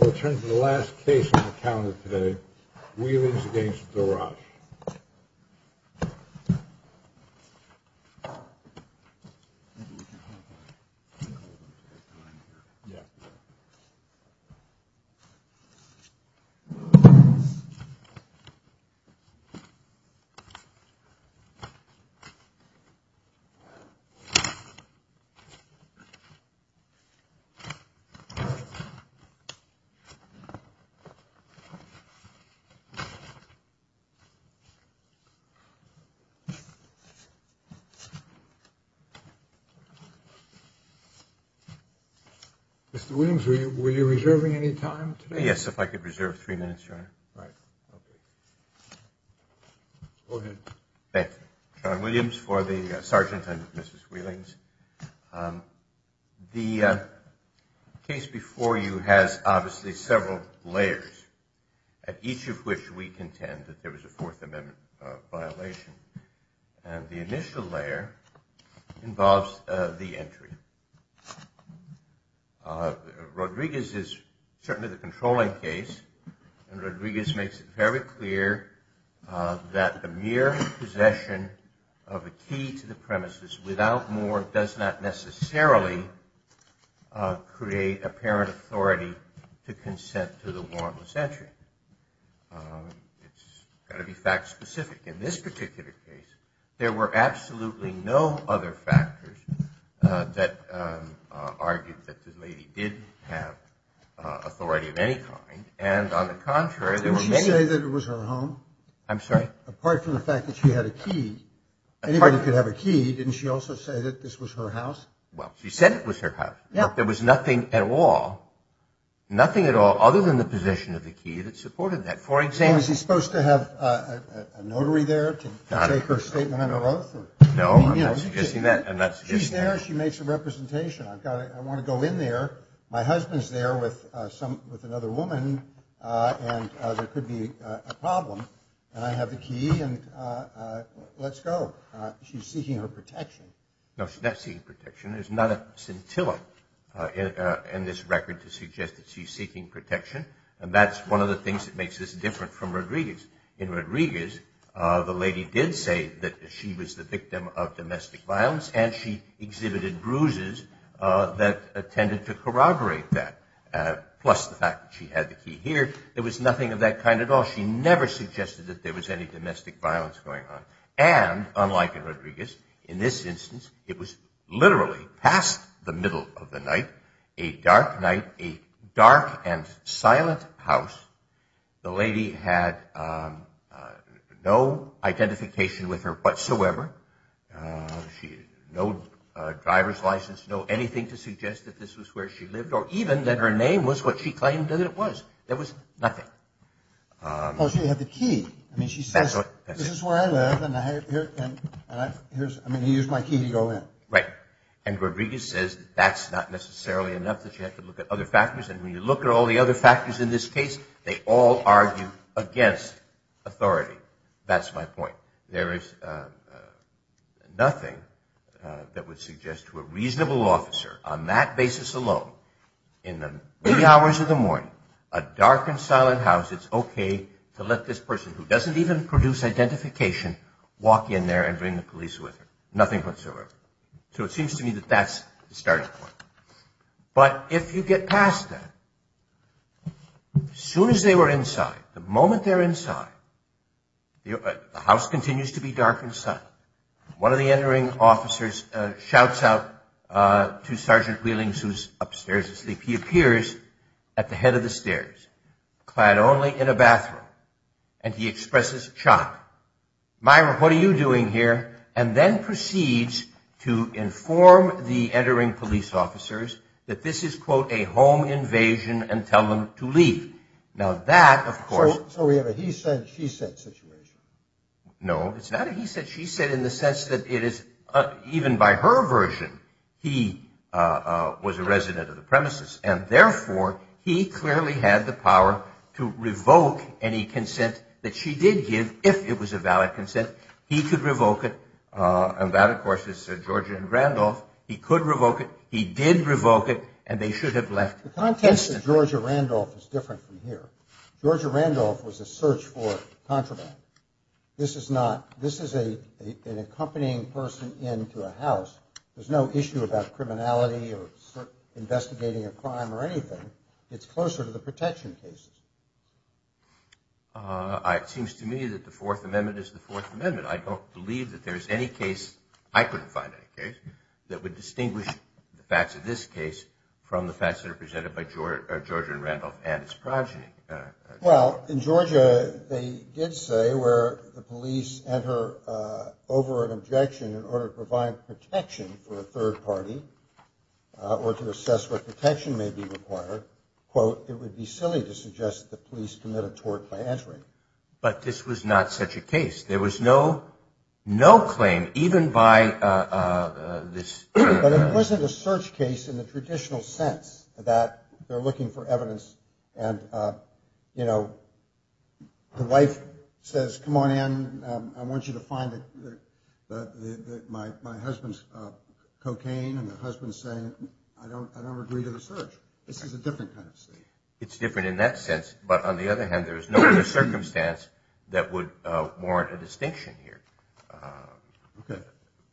We'll turn to the last case on the calendar today, Wheelings v. Dorosh. Mr. Williams, were you reserving any time today? Yes, if I could reserve three minutes, Your Honor. Go ahead. Thank you. Sean Williams for the sergeant and Mrs. Wheelings. The case before you has obviously several layers, each of which we contend that there was a Fourth Amendment violation. And the initial layer involves the entry. Rodriguez is certainly the controlling case, and Rodriguez makes it very clear that the mere possession of a key to the premises without more does not necessarily create apparent authority to consent to the warrantless entry. It's got to be fact-specific. In this particular case, there were absolutely no other factors that argued that the lady did have authority of any kind. And on the contrary, there were many… Didn't she say that it was her home? I'm sorry? Apart from the fact that she had a key. Anybody could have a key. Didn't she also say that this was her house? Well, she said it was her house. There was nothing at all, nothing at all other than the possession of the key that supported that. Is he supposed to have a notary there to take her statement under oath? No, I'm not suggesting that. She's there. She makes a representation. I want to go in there. My husband's there with another woman, and there could be a problem. And I have the key, and let's go. She's seeking her protection. No, she's not seeking protection. There's not a scintilla in this record to suggest that she's seeking protection. And that's one of the things that makes this different from Rodriguez. In Rodriguez, the lady did say that she was the victim of domestic violence, and she exhibited bruises that tended to corroborate that, plus the fact that she had the key here. There was nothing of that kind at all. She never suggested that there was any domestic violence going on. And, unlike in Rodriguez, in this instance, it was literally past the middle of the night, a dark night, a dark and silent house. The lady had no identification with her whatsoever. No driver's license, no anything to suggest that this was where she lived, or even that her name was what she claimed that it was. There was nothing. Well, she had the key. I mean, she says, this is where I live, and here's my key to go in. Right. And Rodriguez says that that's not necessarily enough, that you have to look at other factors. And when you look at all the other factors in this case, they all argue against authority. That's my point. There is nothing that would suggest to a reasonable officer, on that basis alone, in the early hours of the morning, a dark and silent house, it's okay to let this person who doesn't even produce identification walk in there and bring the police with her. Nothing whatsoever. So it seems to me that that's the starting point. But if you get past that, as soon as they were inside, the moment they're inside, the house continues to be dark and silent. One of the entering officers shouts out to Sergeant Wheelings, who's upstairs asleep. He appears at the head of the stairs, clad only in a bathroom, and he expresses shock. Myra, what are you doing here? And then proceeds to inform the entering police officers that this is, quote, a home invasion and tell them to leave. Now, that, of course. So we have a he said, she said situation. No, it's not a he said, she said in the sense that it is, even by her version, he was a resident of the premises. And therefore, he clearly had the power to revoke any consent that she did give, if it was a valid consent. He could revoke it. And that, of course, is Sir George Randolph. He could revoke it. He did revoke it. And they should have left instantly. The context of George Randolph is different from here. George Randolph was a search for contraband. This is not. This is an accompanying person into a house. There's no issue about criminality or investigating a crime or anything. It's closer to the protection cases. It seems to me that the Fourth Amendment is the Fourth Amendment. I don't believe that there's any case, I couldn't find any case, that would distinguish the facts of this case from the facts that are presented by George Randolph and his progeny. Well, in Georgia, they did say where the police enter over an objection in order to provide protection for a third party or to assess what protection may be required, quote, it would be silly to suggest that the police commit a tort by entering. But this was not such a case. There was no claim, even by this. But it wasn't a search case in the traditional sense that they're looking for evidence And, you know, the wife says, come on in. I want you to find my husband's cocaine. And the husband's saying, I don't agree to the search. This is a different kind of state. It's different in that sense. But on the other hand, there's no other circumstance that would warrant a distinction here. Okay.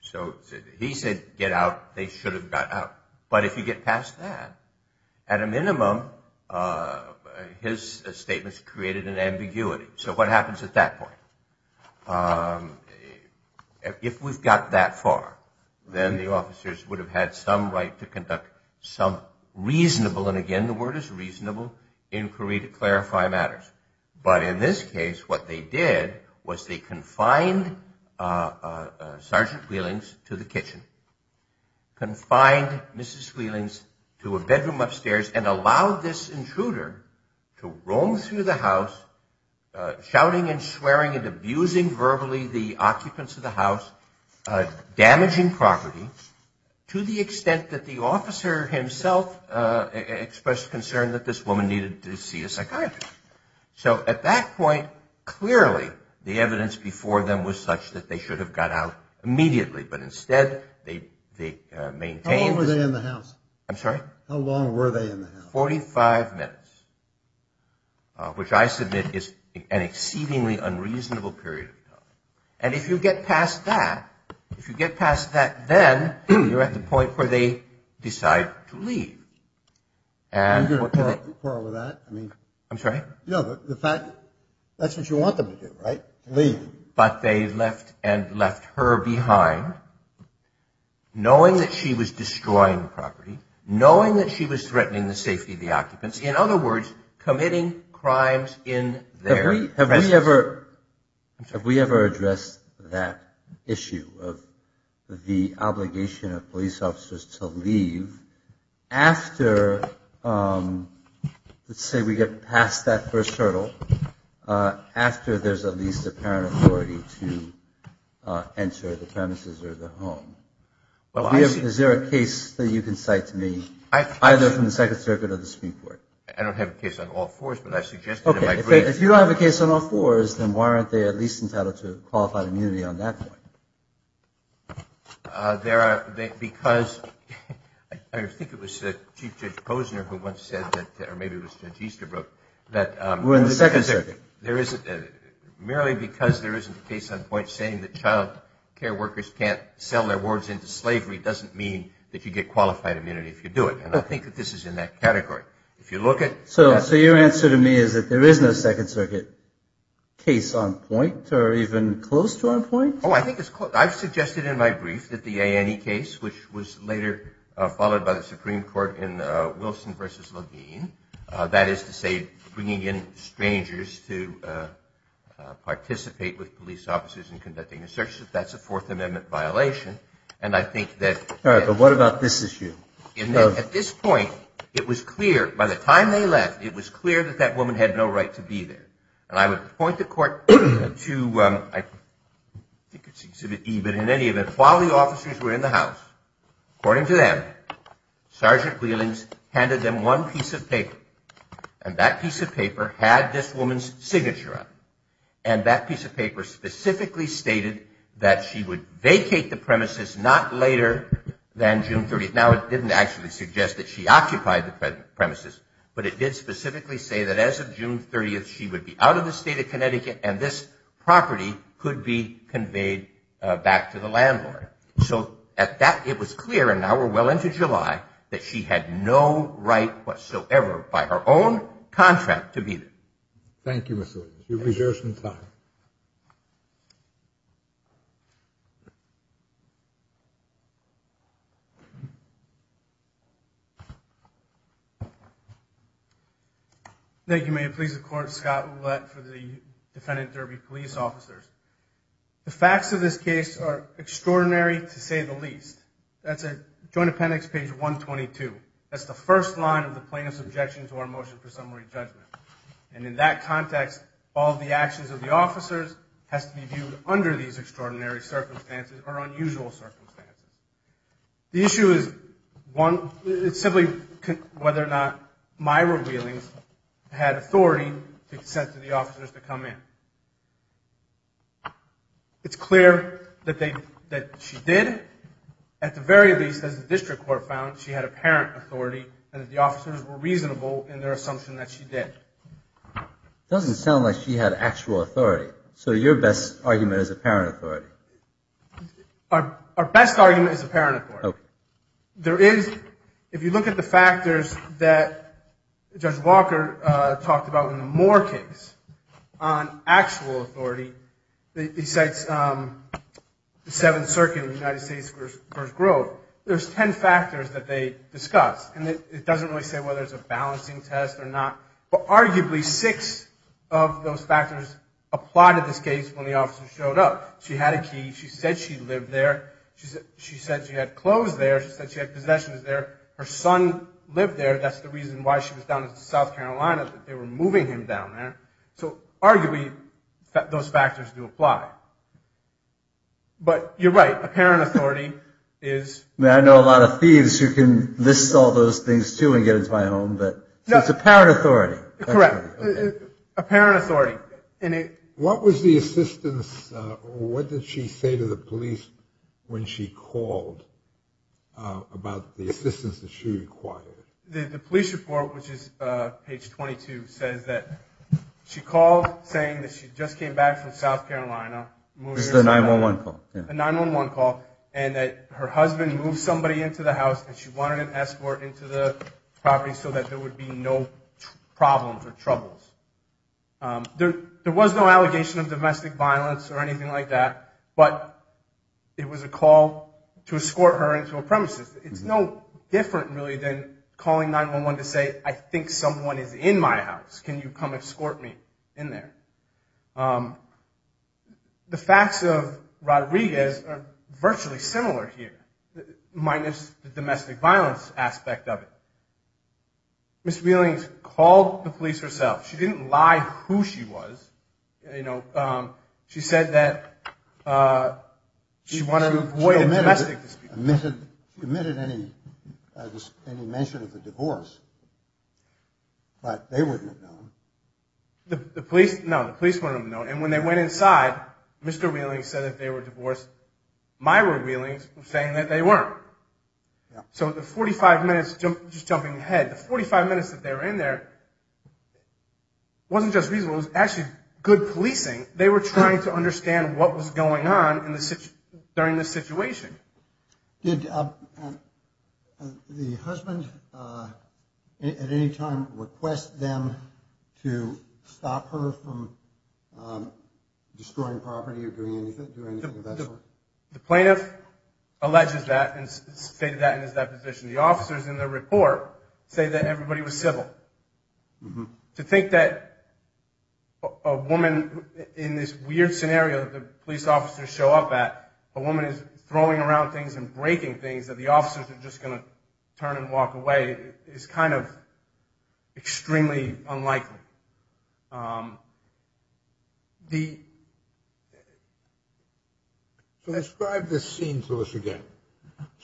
So he said, get out. They should have got out. But if you get past that, at a minimum, his statements created an ambiguity. So what happens at that point? If we've got that far, then the officers would have had some right to conduct some reasonable, and again, the word is reasonable, inquiry to clarify matters. But in this case, what they did was they confined Sergeant Wheelings to the kitchen, confined Mrs. Wheelings to a bedroom upstairs, and allowed this intruder to roam through the house shouting and swearing and abusing verbally the occupants of the house, damaging property, to the extent that the officer himself expressed concern that this woman needed to see a psychiatrist. So at that point, clearly, the evidence before them was such that they should have got out immediately. But instead, they maintained. How long were they in the house? I'm sorry? How long were they in the house? Forty-five minutes, which I submit is an exceedingly unreasonable period of time. And if you get past that, if you get past that then, you're at the point where they decide to leave. Are you going to par with that? I'm sorry? No, the fact, that's what you want them to do, right? Leave. But they left and left her behind, knowing that she was destroying property, knowing that she was threatening the safety of the occupants. In other words, committing crimes in their presence. Have we ever addressed that issue of the obligation of police officers to leave after, let's say we get past that first hurdle, after there's at least apparent authority to enter the premises or the home? Is there a case that you can cite to me, either from the Second Circuit or the Supreme Court? I don't have a case on all fours, but I suggest that it might be. Okay, if you don't have a case on all fours, then why aren't they at least entitled to qualified immunity on that point? Because I think it was Chief Judge Posner who once said, or maybe it was Judge Easterbrook, that merely because there isn't a case on point saying that child care workers can't sell their wards into slavery doesn't mean that you get qualified immunity if you do it. And I think that this is in that category. So your answer to me is that there is no Second Circuit case on point or even close to on point? Oh, I think it's close. I've suggested in my brief that the Annie case, which was later followed by the Supreme Court in Wilson v. Levine, that is to say bringing in strangers to participate with police officers in conducting a search, that's a Fourth Amendment violation. And I think that at this point it was clear, by the time they left, it was clear that that woman had no right to be there. And I would point the court to, I think it's Exhibit E, but in any event, while the officers were in the house, according to them, Sergeant Wheelings handed them one piece of paper, and that piece of paper had this woman's signature on it. And that piece of paper specifically stated that she would vacate the premises not later than June 30th. Now, it didn't actually suggest that she occupied the premises, but it did specifically say that as of June 30th she would be out of the state of Connecticut and this property could be conveyed back to the landlord. So at that, it was clear, and now we're well into July, that she had no right whatsoever by her own contract to be there. Thank you, Mr. Wheeling. You've reserved some time. Thank you. May it please the Court. Scott Ouellette for the defendant, Derby Police Officers. The facts of this case are extraordinary to say the least. That's at Joint Appendix Page 122. That's the first line of the plaintiff's objection to our motion for summary judgment. And in that context, all the actions of the officers has to be viewed under these extraordinary circumstances or unusual circumstances. The issue is simply whether or not Myra Wheelings had authority to consent to the officers to come in. It's clear that she did. At the very least, as the district court found, she had apparent authority and that the officers were reasonable in their assumption that she did. Doesn't sound like she had actual authority. So your best argument is apparent authority? Our best argument is apparent authority. There is, if you look at the factors that Judge Walker talked about in the Moore case on actual authority, besides the Seventh Circuit of the United States v. Grove, there's ten factors that they discussed. And it doesn't really say whether it's a balancing test or not, but arguably six of those factors applauded this case when the officers showed up. She had a key. She said she lived there. She said she had clothes there. She said she had possessions there. Her son lived there. That's the reason why she was down in South Carolina, that they were moving him down there. So arguably, those factors do apply. But you're right. Apparent authority is... I know a lot of thieves who can list all those things, too, and get into my home, but it's apparent authority. Correct. Apparent authority. What was the assistance or what did she say to the police when she called about the assistance that she required? The police report, which is page 22, says that she called saying that she just came back from South Carolina. It was the 911 call. A 911 call, and that her husband moved somebody into the house and she wanted an escort into the property so that there would be no problems or troubles. There was no allegation of domestic violence or anything like that, but it was a call to escort her into a premises. It's no different, really, than calling 911 to say, I think someone is in my house. Can you come escort me in there? The facts of Rodriguez are virtually similar here, minus the domestic violence aspect of it. Ms. Wheeling called the police herself. She didn't lie who she was. She admitted any mention of a divorce, but they wouldn't have known. No, the police wouldn't have known, and when they went inside, Mr. Wheeling said that they were divorced. Myra Wheeling was saying that they weren't. The 45 minutes that they were in there wasn't just reasonable. It was actually good policing. They were trying to understand what was going on during this situation. Did the husband at any time request them to stop her from destroying property or doing anything of that sort? The plaintiff alleges that and stated that in his deposition. The officers in the report say that everybody was civil. To think that a woman, in this weird scenario that the police officers show up at, a woman is throwing around things and breaking things, that the officers are just going to turn and walk away, is kind of extremely unlikely. Describe this scene to us again.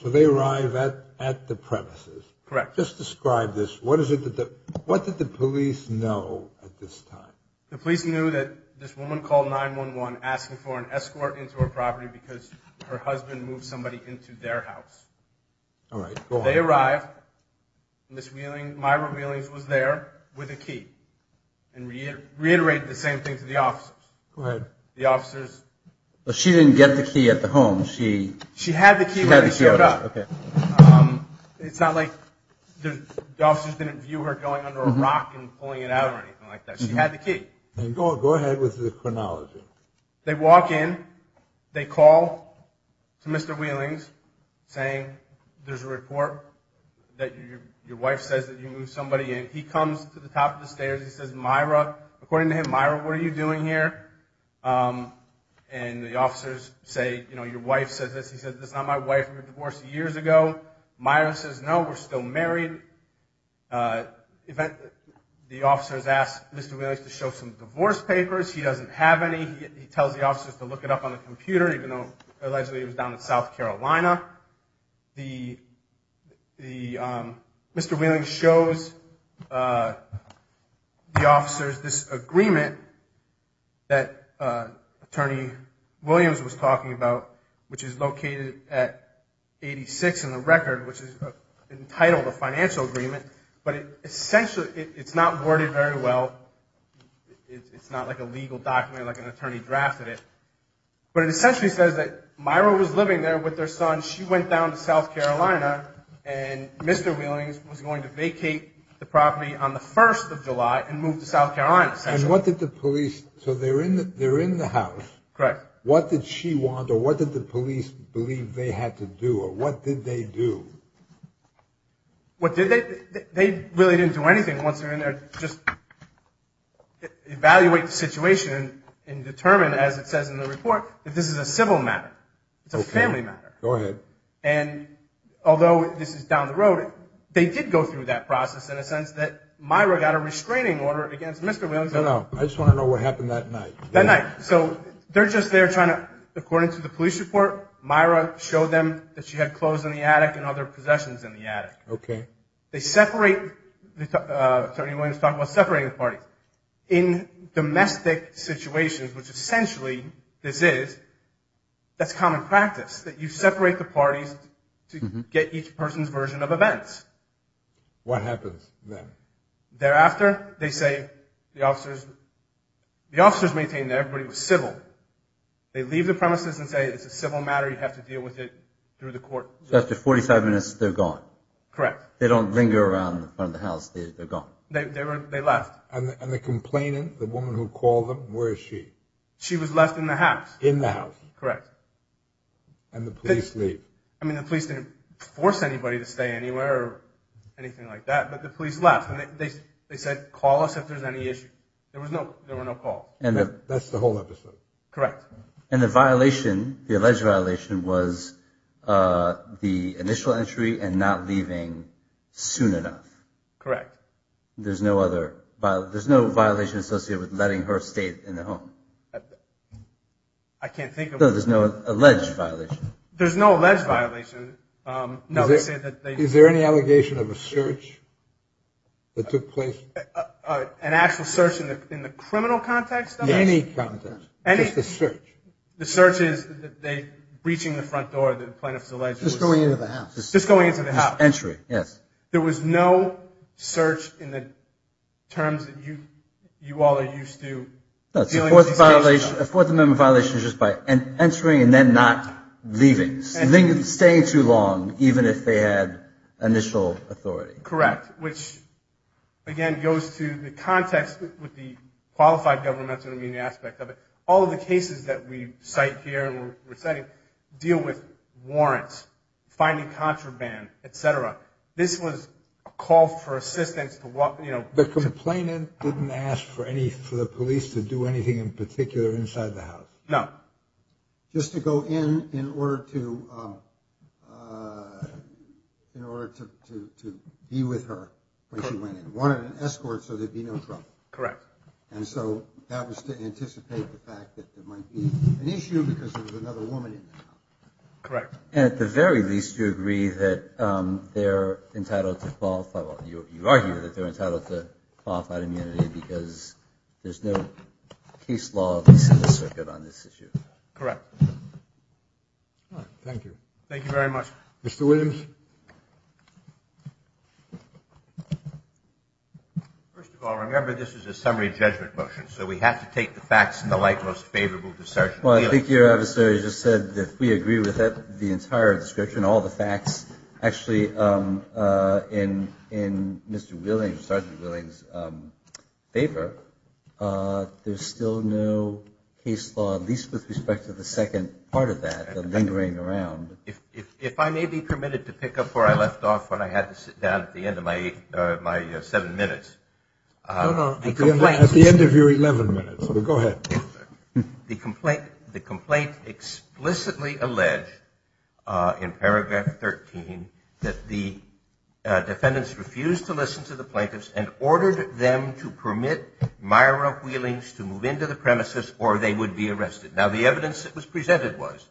So they arrive at the premises. Just describe this. What did the police know at this time? The police knew that this woman called 911 asking for an escort into her property because her husband moved somebody into their house. They arrived. Ms. Wheeling, Myra Wheeling was there with a key. Reiterate the same thing to the officers. She didn't get the key at the home. She had the key when they showed up. It's not like the officers didn't view her going under a rock and pulling it out or anything like that. She had the key. Go ahead with the chronology. They walk in. They call to Mr. Wheeling saying there's a report that your wife says that you moved somebody in. He comes to the top of the stairs. He says, Myra, according to him, Myra, what are you doing here? And the officers say, your wife says this. He says, that's not my wife. We were divorced years ago. Myra says, no, we're still married. The officers ask Mr. Wheeling to show some divorce papers. He doesn't have any. He tells the officers to look it up on the computer, even though allegedly it was down in South Carolina. Mr. Wheeling shows the officers this agreement that Attorney Williams was talking about, which is located at 86 in the record, which is entitled a financial agreement. But essentially it's not worded very well. It's not like a legal document, like an attorney drafted it. But it essentially says that Myra was living there with her son. She went down to South Carolina. And Mr. Wheeling was going to vacate the property on the 1st of July and move to South Carolina. And what did the police, so they're in the house. What did she want? Or what did the police believe they had to do? Or what did they do? They really didn't do anything. Once they're in there, just evaluate the situation and determine, as it says in the report, that this is a civil matter. It's a family matter. And although this is down the road, they did go through that process in a sense that Myra got a restraining order against Mr. Wheeling. No, no. I just want to know what happened that night. So they're just there trying to, according to the police report, Myra showed them that she had clothes in the attic and other possessions in the attic. They separate, Attorney Williams talked about separating the parties. But in domestic situations, which essentially this is, that's common practice. That you separate the parties to get each person's version of events. What happens then? Thereafter, they say, the officers maintain that everybody was civil. They leave the premises and say it's a civil matter, you have to deal with it through the court. After 45 minutes, they're gone. They don't linger around the front of the house, they're gone. And the complainant, the woman who called them, where is she? She was left in the house. The police didn't force anybody to stay anywhere or anything like that, but the police left. They said, call us if there's any issue. There was no call. That's the whole episode. And the alleged violation was the initial entry and not leaving soon enough. There's no violation associated with letting her stay in the home. There's no alleged violation. Is there any allegation of a search that took place? An actual search in the criminal context? The search is breaching the front door. Just going into the house. There was no search in the terms that you all are used to. A Fourth Amendment violation is just by entering and then not leaving, staying too long, even if they had initial authority. Correct. Which, again, goes to the context with the qualified governmental aspect of it. All of the cases that we cite here and we're citing deal with warrants, finding contraband, etc. This was a call for assistance. The complainant didn't ask for the police to do anything in particular inside the house? No. Just to go in in order to be with her when she went in. Wanted an escort so there'd be no trouble. Correct. And so that was to anticipate the fact that there might be an issue because there was another woman in the house. Correct. Correct. You argue that they're entitled to qualified immunity because there's no case law on this issue. Correct. First of all, remember this is a summary judgment motion, so we have to take the facts in the light most favorable. Well, I think your adversary just said that we agree with the entire description, all the facts. Actually, in Mr. Wheeling's, Sergeant Wheeling's favor, there's still no case law, at least with respect to the second part of that lingering around. If I may be permitted to pick up where I left off when I had to sit down at the end of my seven minutes. At the end of your 11 minutes. Go ahead. The complaint explicitly alleged in paragraph 13 that the defendants refused to listen to the plaintiffs and ordered them to permit Myra Wheeling's to move into the premises or they would be arrested. Now, the evidence that was presented was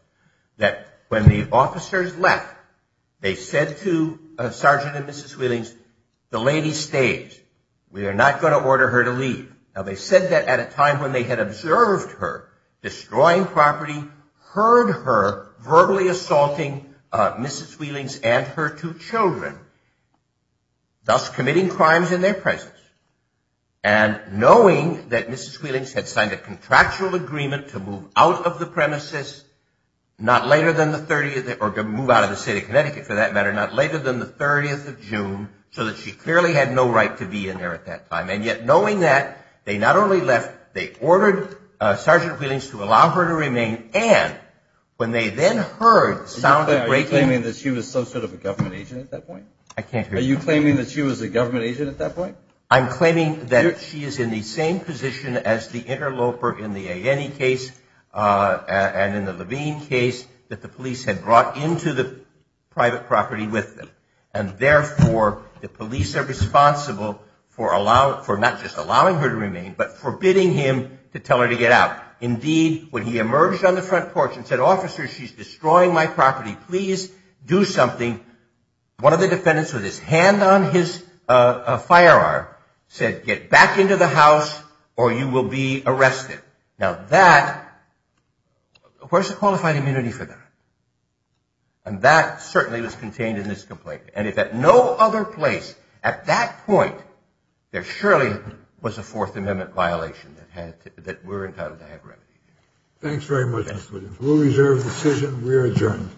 that when the officers left, they said to Sergeant and Mrs. Wheeling's, the lady stayed. We are not going to order her to leave. Now, they said that at a time when they had observed her destroying property, heard her verbally assaulting Mrs. Wheeling's and her two children, thus committing crimes in their presence. And knowing that Mrs. Wheeling's had signed a contractual agreement to move out of the premises, not later than the 30th or to move out of the state of Connecticut, for that matter, not later than the 30th of June, so that she clearly had no right to be in there at that time. And yet, knowing that, they not only left, they ordered Sergeant Wheeling's to allow her to remain. And when they then heard the sound of breaking... Are you claiming that she was some sort of a government agent at that point? I can't hear you. I'm saying that she is in the same position as the interloper in the A.N.E. case and in the Levine case, that the police had brought into the private property with them. And therefore, the police are responsible for not just allowing her to remain, but forbidding him to tell her to get out. Indeed, when he emerged on the front porch and said, officers, she's destroying my property, please do something, one of the defendants with his hand on his firearm said, get back into the house or you will be arrested. Now, where's the qualified immunity for that? And that certainly was contained in this complaint. And if at no other place at that point there surely was a Fourth Amendment violation that we're entitled to have remedy. Thanks very much. We'll reserve the decision. We're adjourned.